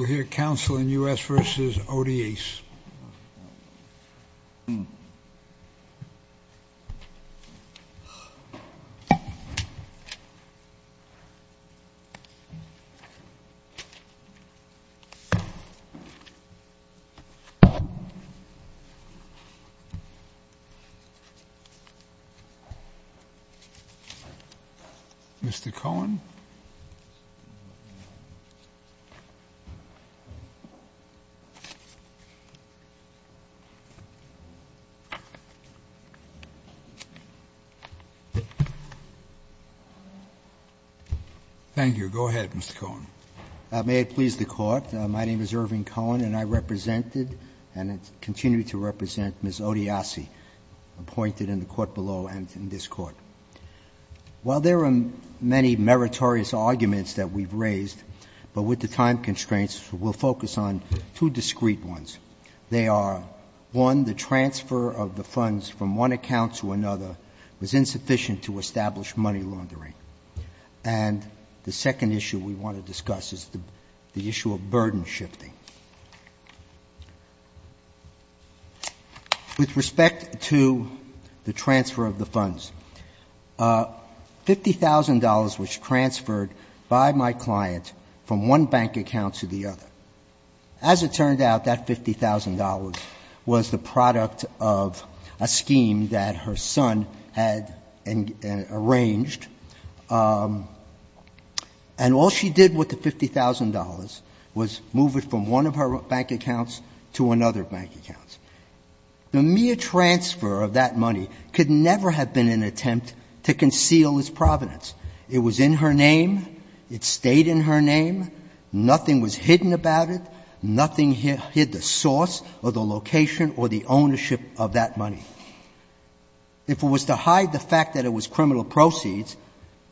We'll hear counsel in U.S. v. Odiace. Thank you, go ahead, Mr. Cohen. May it please the court, my name is Irving Cohen and I represented and continue to represent Ms. Odiace, appointed in the court below and in this court. While there are many meritorious arguments that we've raised, but with the time constraints, we'll focus on two discreet ones. They are, one, the transfer of the funds from one account to another was insufficient to establish money laundering. And the second issue we want to discuss is the issue of burden shifting. With respect to the transfer of the funds, $50,000 was transferred by my client from one bank account to the other. As it turned out, that $50,000 was the product of a scheme that her son had arranged. And all she did with the $50,000 was move it from one of her bank accounts to another bank account. The mere transfer of that money could never have been an attempt to conceal its provenance. It was in her name. It stayed in her name. Nothing was hidden about it. Nothing hid the source or the location or the ownership of that money. If it was to hide the fact that it was criminal proceeds,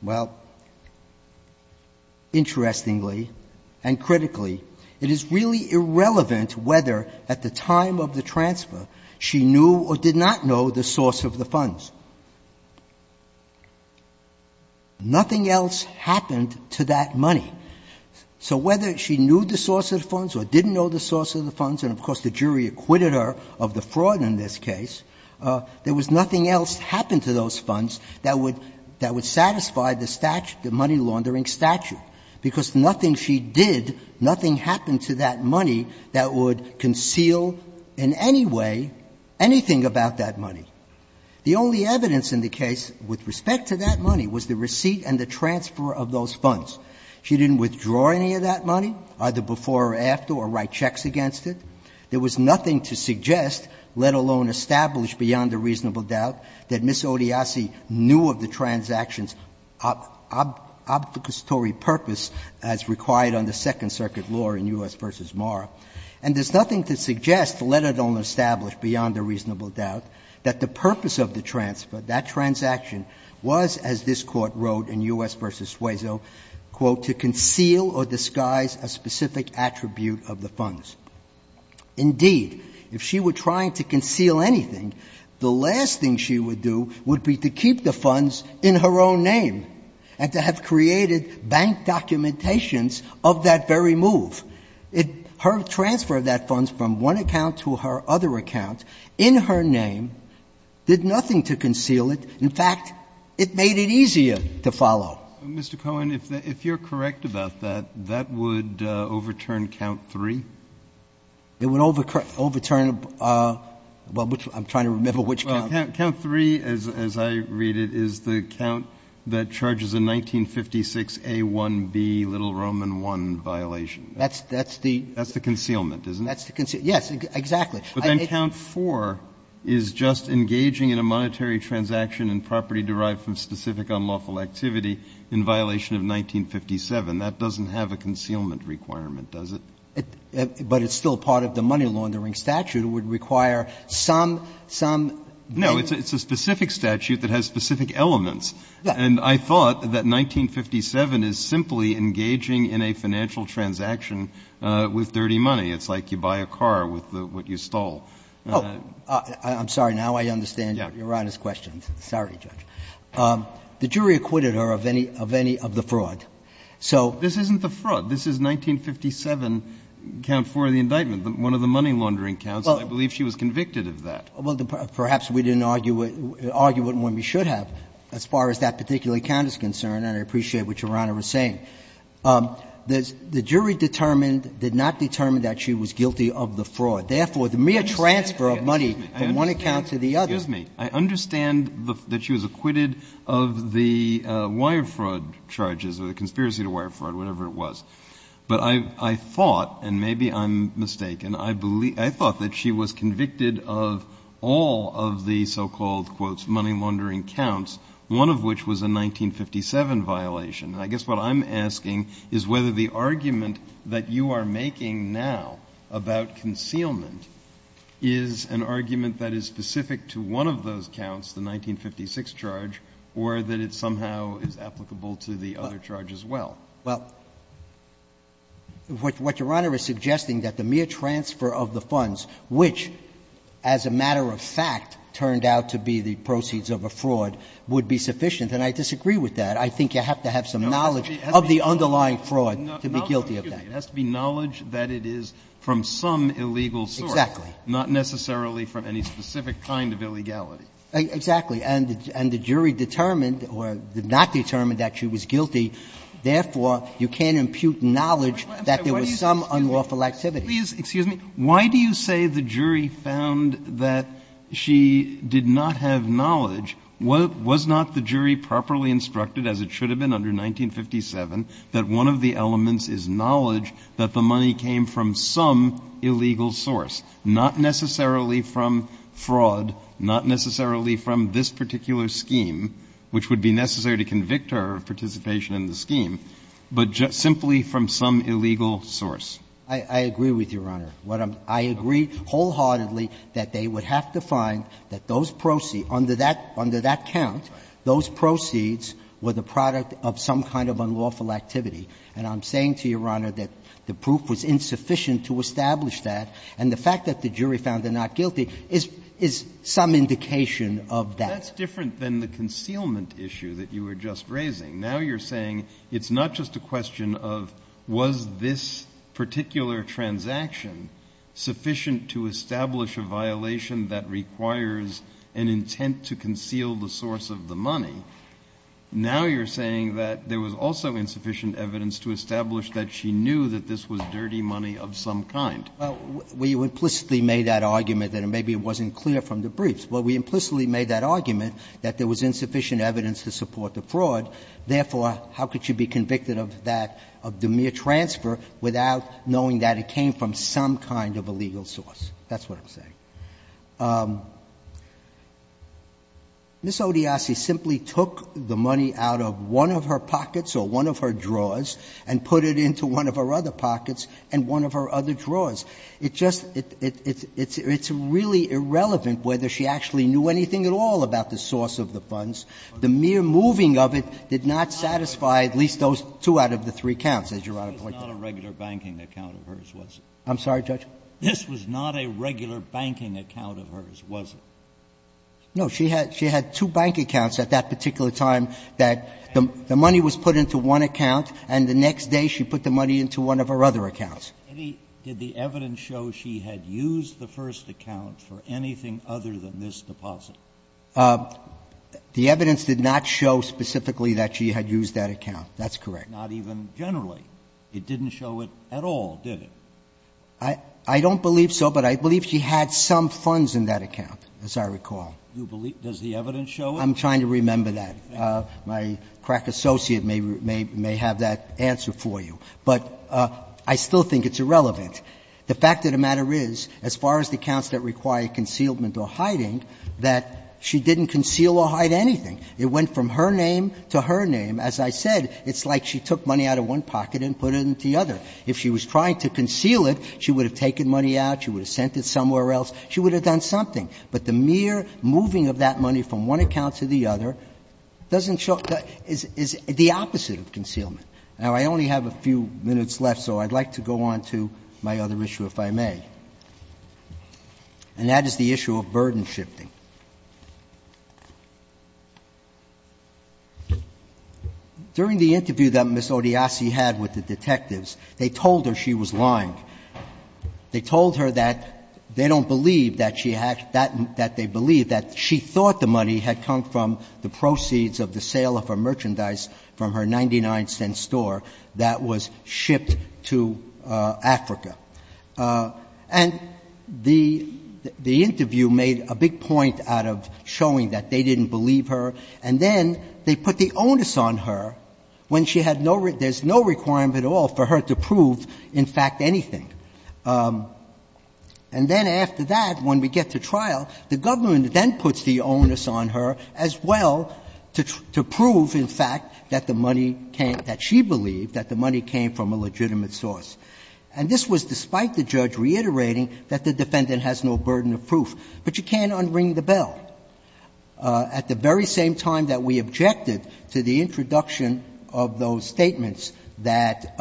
well, interestingly and critically, it is really irrelevant whether at the time of the transfer she knew or did not know the source of the funds. Nothing else happened to that money. So whether she knew the source of the funds or didn't know the source of the funds and, of course, the jury acquitted her of the fraud in this case, there was nothing else happened to those funds that would satisfy the statute, the money laundering statute, because nothing she did, nothing happened to that money that would conceal in any way anything about that money. The only evidence in the case with respect to that money was the receipt and the transfer of those funds. She didn't withdraw any of that money, either before or after, or write checks against it. There was nothing to suggest, let alone establish beyond a reasonable doubt, that Ms. Odiasi knew of the transaction's obfuscatory purpose as required on the Second Circuit law in U.S. v. Mara, and there's nothing to suggest, let alone establish beyond a reasonable doubt, that the purpose of the transfer, that transaction was, as this Court wrote in U.S. v. Suezo, quote, to conceal or disguise a specific attribute of the funds. Indeed, if she were trying to conceal anything, the last thing she would do would be to keep the funds in her own name and to have created bank documentations of that very move. Her transfer of that funds from one account to her other account in her name did nothing to conceal it. In fact, it made it easier to follow. Mr. Cohen, if you're correct about that, that would overturn count three? It would overturn the one which I'm trying to remember which count. Count three, as I read it, is the count that charges a 1956 A1B little Roman I violation. That's the concealment, isn't it? That's the concealment, yes, exactly. But then count four is just engaging in a monetary transaction in property derived from specific unlawful activity in violation of 1957. That doesn't have a concealment requirement, does it? But it's still part of the money-laundering statute. It would require some, some. No, it's a specific statute that has specific elements. And I thought that 1957 is simply engaging in a financial transaction with dirty money. It's like you buy a car with what you stole. Oh, I'm sorry, now I understand Your Honor's questions. Sorry, Judge. The jury acquitted her of any, of any of the fraud. So this isn't the fraud. This is 1957 count four of the indictment, one of the money-laundering counts. I believe she was convicted of that. Well, perhaps we didn't argue it, argue it when we should have, as far as that particular count is concerned, and I appreciate what Your Honor was saying. The jury determined, did not determine that she was guilty of the fraud. Therefore, the mere transfer of money from one account to the other. Excuse me. I understand that she was acquitted of the wire fraud charges or the conspiracy to wire fraud, whatever it was. But I, I thought, and maybe I'm mistaken, I believe, I thought that she was convicted of all of the so-called, quote, money-laundering counts, one of which was a 1957 violation. And I guess what I'm asking is whether the argument that you are making now about concealment is an argument that is specific to one of those counts, the 1956 charge, or that it somehow is applicable to the other charge as well. Well, what Your Honor is suggesting, that the mere transfer of the funds which as a matter of fact turned out to be the proceeds of a fraud would be sufficient. And I disagree with that. I think you have to have some knowledge of the underlying fraud to be guilty of that. It has to be knowledge that it is from some illegal source. Exactly. Not necessarily from any specific kind of illegality. Exactly. And the jury determined or did not determine that she was guilty. Therefore, you can't impute knowledge that there was some unlawful activity. Please, excuse me. Why do you say the jury found that she did not have knowledge? Was not the jury properly instructed, as it should have been under 1957, that one of the elements is knowledge that the money came from some illegal source, not necessarily from fraud, not necessarily from this particular scheme, which would be necessary to convict her of participation in the scheme, but simply from some illegal source? I agree with Your Honor. I agree wholeheartedly that they would have to find that those proceeds, under that count, those proceeds were the product of some kind of unlawful activity. And I'm saying to Your Honor that the proof was insufficient to establish that. And the fact that the jury found her not guilty is some indication of that. That's different than the concealment issue that you were just raising. Now you're saying it's not just a question of was this particular transaction sufficient to establish a violation that requires an intent to conceal the source of the money. Now you're saying that there was also insufficient evidence to establish that she knew that this was dirty money of some kind. Well, we implicitly made that argument that maybe it wasn't clear from the briefs. Well, we implicitly made that argument that there was insufficient evidence to support the fraud. Therefore, how could she be convicted of that, of the mere transfer, without knowing that it came from some kind of a legal source? That's what I'm saying. Ms. Odiasi simply took the money out of one of her pockets or one of her drawers and put it into one of her other pockets and one of her other drawers. It just — it's really irrelevant whether she actually knew anything at all about the source of the funds. The mere moving of it did not satisfy at least those two out of the three counts, as Your Honor pointed out. This was not a regular banking account of hers, was it? I'm sorry, Judge? This was not a regular banking account of hers, was it? No. She had two bank accounts at that particular time that the money was put into one account, and the next day she put the money into one of her other accounts. Did the evidence show she had used the first account for anything other than this deposit? The evidence did not show specifically that she had used that account. That's correct. Not even generally. It didn't show it at all, did it? I don't believe so, but I believe she had some funds in that account, as I recall. You believe — does the evidence show it? I'm trying to remember that. My crack associate may have that answer for you. But I still think it's irrelevant. The fact of the matter is, as far as the counts that require concealment or hiding, that she didn't conceal or hide anything. It went from her name to her name. As I said, it's like she took money out of one pocket and put it into the other. If she was trying to conceal it, she would have taken money out, she would have sent it somewhere else, she would have done something. But the mere moving of that money from one account to the other doesn't show — is the opposite of concealment. Now, I only have a few minutes left, so I'd like to go on to my other issue, if I may. And that is the issue of burden shifting. During the interview that Ms. Odiasi had with the detectives, they told her she was lying. They told her that they don't believe that she had — that they believe that she thought the money had come from the proceeds of the sale of her merchandise from her 99-cent store that was shipped to Africa. And the interview made a big point out of showing that they didn't believe her. And then they put the onus on her when she had no — there's no requirement at all for her to prove, in fact, anything. And then after that, when we get to trial, the government then puts the onus on her as well to prove, in fact, that the money came — that she believed that the money came from a legitimate source. And this was despite the judge reiterating that the defendant has no burden of proof. But you can't unring the bell. At the very same time that we objected to the introduction of those statements that —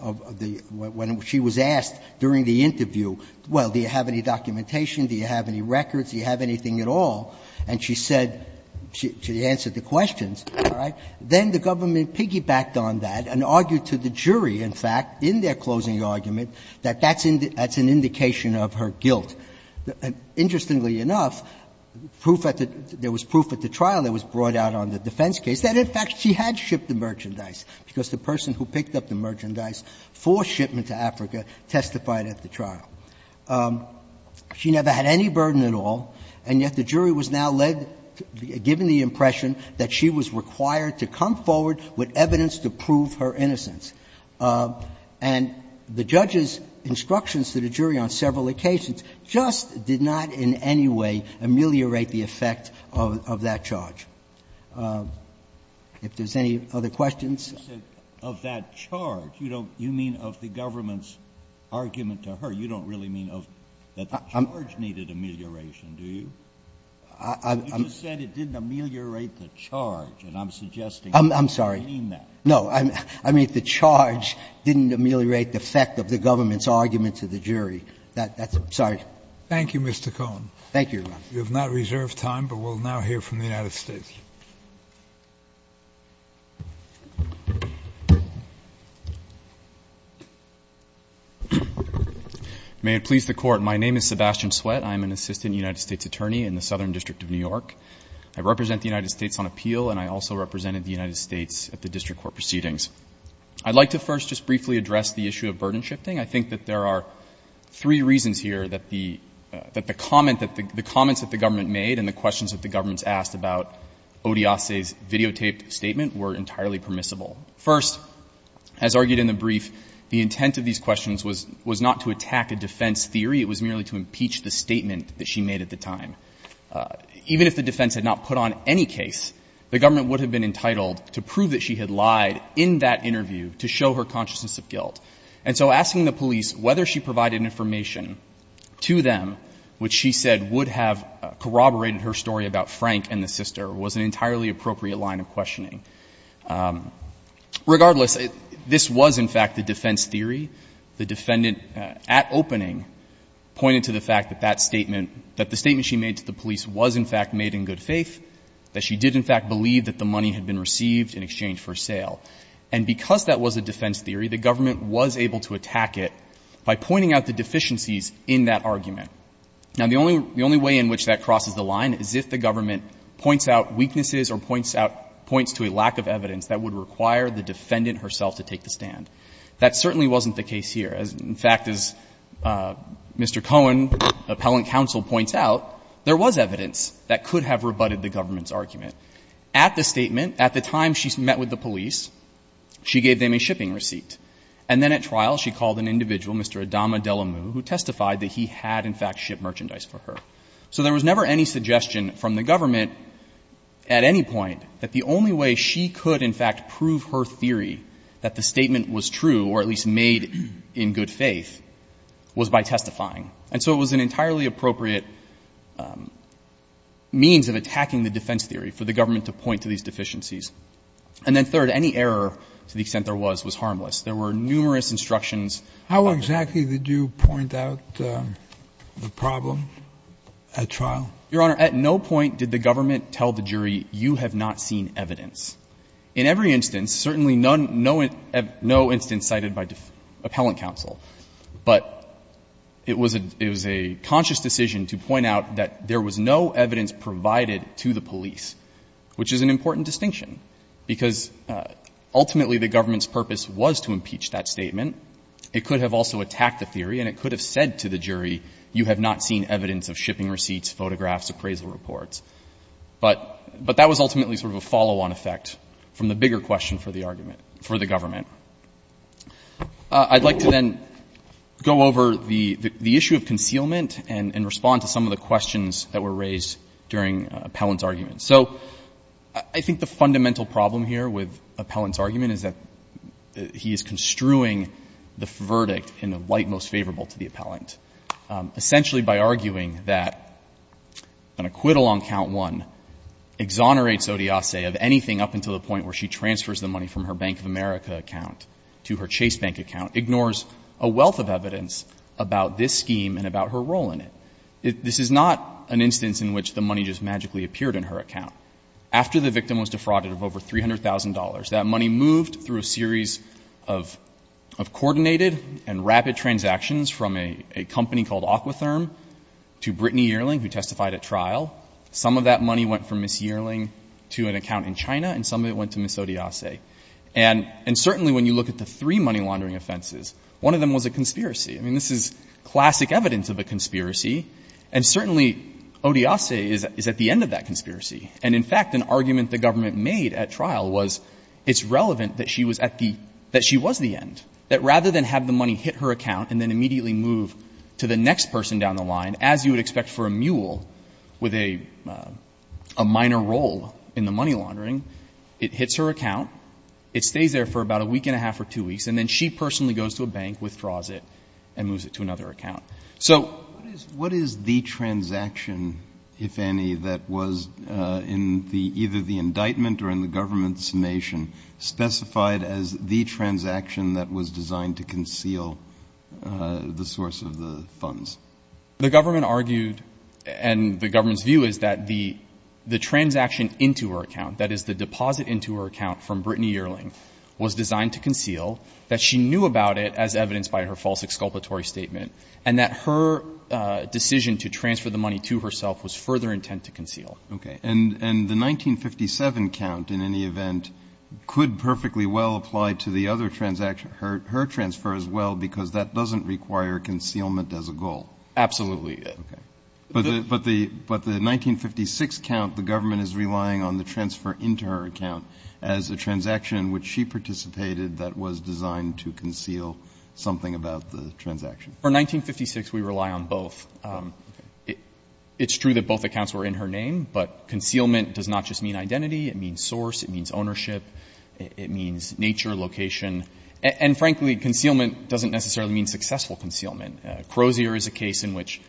of the — when she was asked during the interview, well, do you have any documentation, do you have any records, do you have anything at all, and she said — she answered the questions, all right, then the government piggybacked on that and argued to the jury, in fact, in their closing argument, that that's an indication of her guilt. Interestingly enough, proof at the — there was proof at the trial that was brought out on the defense case that, in fact, she had shipped the merchandise, because the person who picked up the merchandise for shipment to Africa testified at the trial. She never had any burden at all, and yet the jury was now led — given the impression that she was required to come forward with evidence to prove her innocence. And the judge's instructions to the jury on several occasions just did not in any way ameliorate the effect of that charge. If there's any other questions. Kennedy. Of that charge, you don't — you mean of the government's argument to her. You don't really mean of — that the charge needed amelioration, do you? I'm — You said it didn't ameliorate the charge, and I'm suggesting you don't mean that. I'm sorry. No. I mean, if the charge didn't ameliorate the effect of the government's argument to the jury, that's — sorry. Thank you, Mr. Cohen. Thank you, Your Honor. We have not reserved time, but we'll now hear from the United States. May it please the Court. My name is Sebastian Sweat. I'm an assistant United States attorney in the Southern District of New York. I represent the United States on appeal, and I also represented the United States at the district court proceedings. I'd like to first just briefly address the issue of burden shifting. I think that there are three reasons here that the — that the comment — that the comments that the government made and the questions that the government's asked about Odiase's videotaped statement were entirely permissible. First, as argued in the brief, the intent of these questions was — was not to attack a defense theory. It was merely to impeach the statement that she made at the time. Even if the defense had not put on any case, the government would have been entitled to prove that she had lied in that interview to show her consciousness of guilt. And so asking the police whether she provided information to them which she said would have corroborated her story about Frank and the sister was an entirely appropriate line of questioning. Regardless, this was, in fact, the defense theory. The defendant, at opening, pointed to the fact that that statement — that the statement to the police was, in fact, made in good faith, that she did, in fact, believe that the money had been received in exchange for sale. And because that was a defense theory, the government was able to attack it by pointing out the deficiencies in that argument. Now, the only — the only way in which that crosses the line is if the government points out weaknesses or points out — points to a lack of evidence that would require the defendant herself to take the stand. That certainly wasn't the case here. In fact, as Mr. Cohen, appellant counsel, points out, there was evidence that could have rebutted the government's argument. At the statement, at the time she met with the police, she gave them a shipping receipt. And then at trial, she called an individual, Mr. Adama Delamu, who testified that he had, in fact, shipped merchandise for her. So there was never any suggestion from the government at any point that the only way she could, in fact, prove her theory that the statement was true or at least made in good faith was by testifying. And so it was an entirely appropriate means of attacking the defense theory for the government to point to these deficiencies. And then third, any error, to the extent there was, was harmless. There were numerous instructions. How exactly did you point out the problem at trial? Your Honor, at no point did the government tell the jury, you have not seen evidence. In every instance, certainly none, no instance cited by appellant counsel. But it was a conscious decision to point out that there was no evidence provided to the police, which is an important distinction. Because ultimately the government's purpose was to impeach that statement. It could have also attacked the theory and it could have said to the jury, you have not seen evidence of shipping receipts, photographs, appraisal reports. But that was ultimately sort of a follow-on effect from the bigger question for the argument, for the government. I'd like to then go over the issue of concealment and respond to some of the questions that were raised during appellant's argument. So I think the fundamental problem here with appellant's argument is that he is construing the verdict in a light most favorable to the appellant. Essentially by arguing that an acquittal on count one exonerates Odiase of anything up until the point where she transfers the money from her Bank of America account to her Chase Bank account ignores a wealth of evidence about this scheme and about her role in it. This is not an instance in which the money just magically appeared in her account. After the victim was defrauded of over $300,000, that money moved through a series of coordinated and rapid transactions from a company called Aquatherm to Brittany Yearling who testified at trial. Some of that money went from Ms. Yearling to an account in China and some of it went to Ms. Odiase. And certainly when you look at the three money laundering offenses, one of them was a conspiracy. I mean, this is classic evidence of a conspiracy and certainly Odiase is at the end of that conspiracy. And in fact, an argument the government made at trial was it's relevant that she was the end. That rather than have the money hit her account and then immediately move to the next person down the line as you would expect for a mule with a minor role in the money laundering, it hits her account, it stays there for about a week and a half or two weeks, and then she personally goes to a bank, withdraws it, and moves it to another account. So what is the transaction, if any, that was in either the indictment or in the government's estimation specified as the transaction that was designed to conceal the source of the funds? The government argued and the government's view is that the transaction into her account, that is the deposit into her account from Brittany Yearling, was designed to conceal, that she knew about it as evidenced by her false exculpatory statement, and that her decision to transfer the money to herself was further intent to conceal. Okay. And the 1957 count, in any event, could perfectly well apply to the other transaction, her transfer as well, because that doesn't require concealment as a goal. Absolutely. Okay. But the 1956 count, the government is relying on the transfer into her account as a transaction in which she participated that was designed to conceal something about the transaction. For 1956, we rely on both. It's true that both accounts were in her name, but concealment does not just mean identity. It means source. It means ownership. It means nature, location. And, frankly, concealment doesn't necessarily mean successful concealment. Crozier is a case in which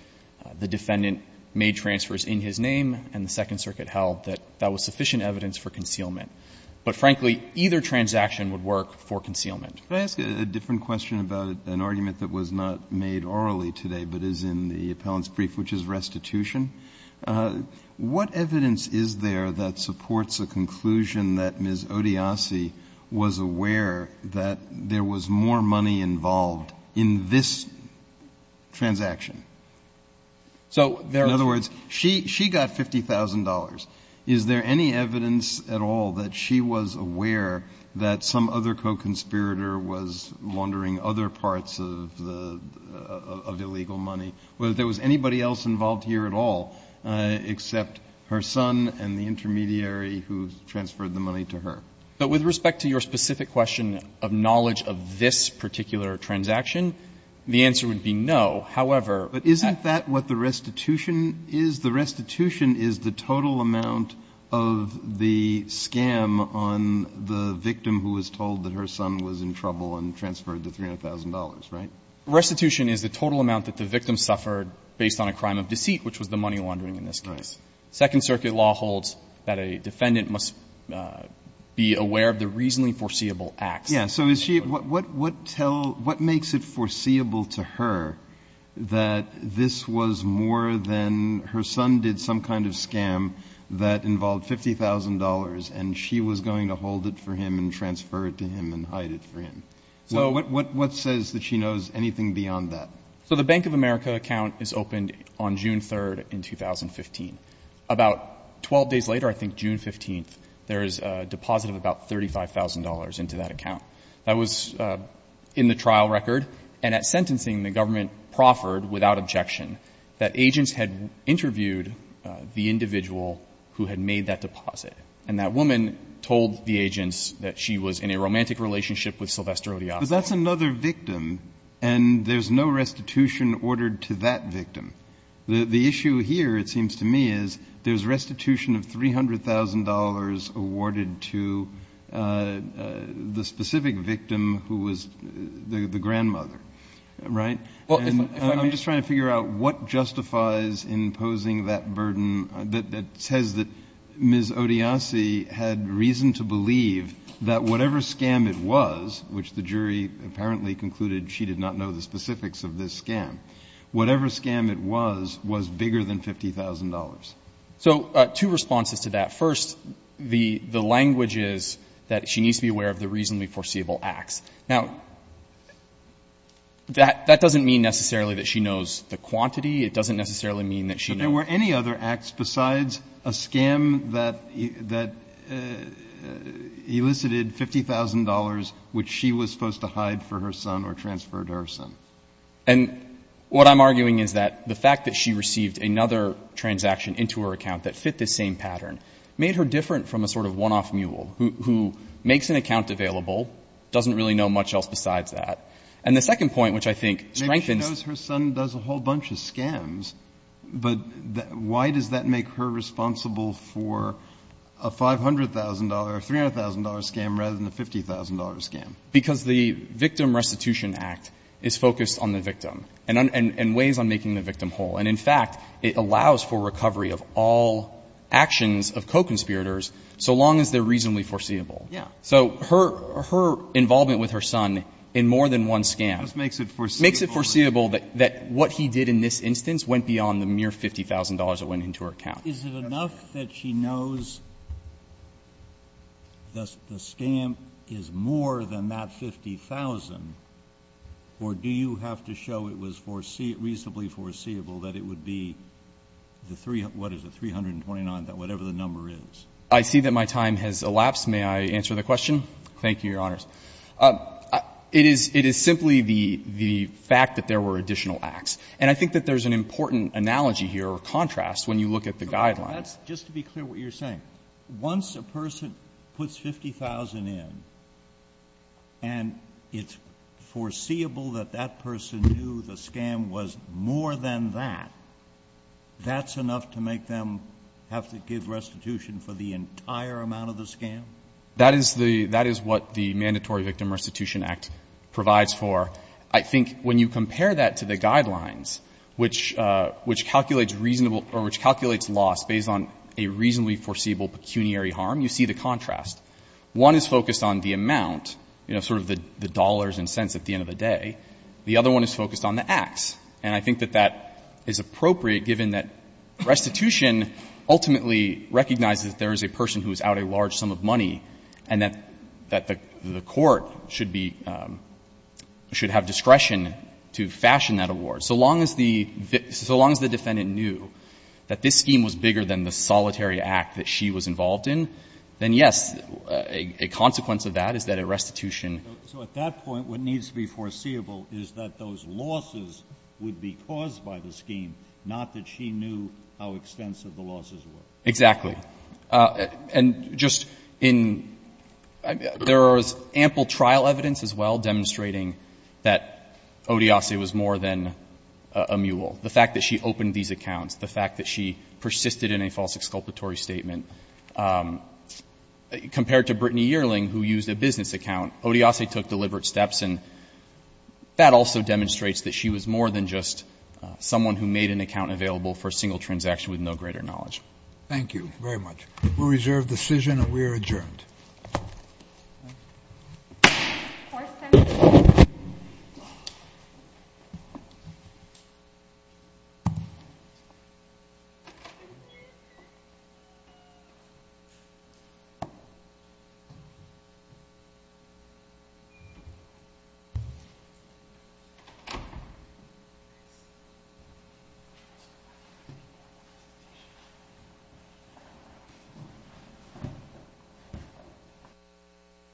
the defendant made transfers in his name and the Second Circuit held that that was sufficient evidence for concealment. But, frankly, either transaction would work for concealment. Could I ask a different question about an argument that was not made orally today but is in the appellant's brief, which is restitution? What evidence is there that supports a conclusion that Ms. Odiasi was aware that there was more money involved in this transaction? In other words, she got $50,000. Is there any evidence at all that she was aware that some other co-conspirator was laundering other parts of the illegal money, whether there was anybody else involved here at all except her son and the intermediary who transferred the money to her? But with respect to your specific question of knowledge of this particular transaction, the answer would be no. However, that's not true. But isn't that what the restitution is? The restitution is the total amount of the scam on the victim who was told that her son was in trouble and transferred the $300,000, right? Restitution is the total amount that the victim suffered based on a crime of deceit, which was the money laundering in this case. Second Circuit law holds that a defendant must be aware of the reasonably foreseeable acts. Yes. So is she – what makes it foreseeable to her that this was more than her son did some kind of scam that involved $50,000 and she was going to hold it for him and transfer it to him and hide it for him? What says that she knows anything beyond that? So the Bank of America account is opened on June 3rd in 2015. About 12 days later, I think June 15th, there is a deposit of about $35,000 into that account. That was in the trial record. And at sentencing, the government proffered without objection that agents had interviewed the individual who had made that deposit. And that woman told the agents that she was in a romantic relationship with Sylvester O'Donoghue. But that's another victim, and there's no restitution ordered to that victim. The issue here, it seems to me, is there's restitution of $300,000 awarded to the specific victim who was the grandmother, right? Well, if I – And I'm just trying to figure out what justifies imposing that burden that says that Ms. Odiasi had reason to believe that whatever scam it was, which the jury apparently concluded she did not know the specifics of this scam, whatever scam it was, was bigger than $50,000. So two responses to that. First, the language is that she needs to be aware of the reasonably foreseeable acts. Now, that doesn't mean necessarily that she knows the quantity. It doesn't necessarily mean that she knows – Were there any other acts besides a scam that elicited $50,000, which she was supposed to hide for her son or transfer to her son? And what I'm arguing is that the fact that she received another transaction into her account that fit this same pattern made her different from a sort of one- off mule who makes an account available, doesn't really know much else besides that. And the second point, which I think strengthens – But why does that make her responsible for a $500,000 or $300,000 scam rather than a $50,000 scam? Because the Victim Restitution Act is focused on the victim and weighs on making the victim whole. And in fact, it allows for recovery of all actions of co-conspirators so long as they're reasonably foreseeable. Yeah. So her involvement with her son in more than one scam – Just makes it foreseeable. That what he did in this instance went beyond the mere $50,000 that went into her account. Is it enough that she knows the scam is more than that $50,000, or do you have to show it was reasonably foreseeable that it would be the 3 – what is it, 329, whatever the number is? I see that my time has elapsed. May I answer the question? Thank you, Your Honors. It is simply the fact that there were additional acts. And I think that there's an important analogy here or contrast when you look at the guidelines. Just to be clear what you're saying. Once a person puts $50,000 in and it's foreseeable that that person knew the scam was more than that, that's enough to make them have to give restitution for the entire amount of the scam? That is what the Mandatory Victim Restitution Act provides for. I think when you compare that to the guidelines, which calculates reasonable – or which calculates loss based on a reasonably foreseeable pecuniary harm, you see the contrast. One is focused on the amount, you know, sort of the dollars and cents at the end of the day. The other one is focused on the acts. And I think that that is appropriate given that restitution ultimately recognizes that there is a person who is out a large sum of money and that the court should be – should have discretion to fashion that award. So long as the defendant knew that this scheme was bigger than the solitary act that she was involved in, then yes, a consequence of that is that a restitution. So at that point, what needs to be foreseeable is that those losses would be caused by the scheme, not that she knew how extensive the losses were? Exactly. And just in – there was ample trial evidence as well demonstrating that Odiase was more than a mule. The fact that she opened these accounts, the fact that she persisted in a false exculpatory statement, compared to Brittany Yearling, who used a business account, Odiase took deliberate steps. And that also demonstrates that she was more than just someone who made an account available for a single transaction with no greater knowledge. Thank you very much. We'll reserve the decision and we are adjourned. Court is adjourned. Thank you.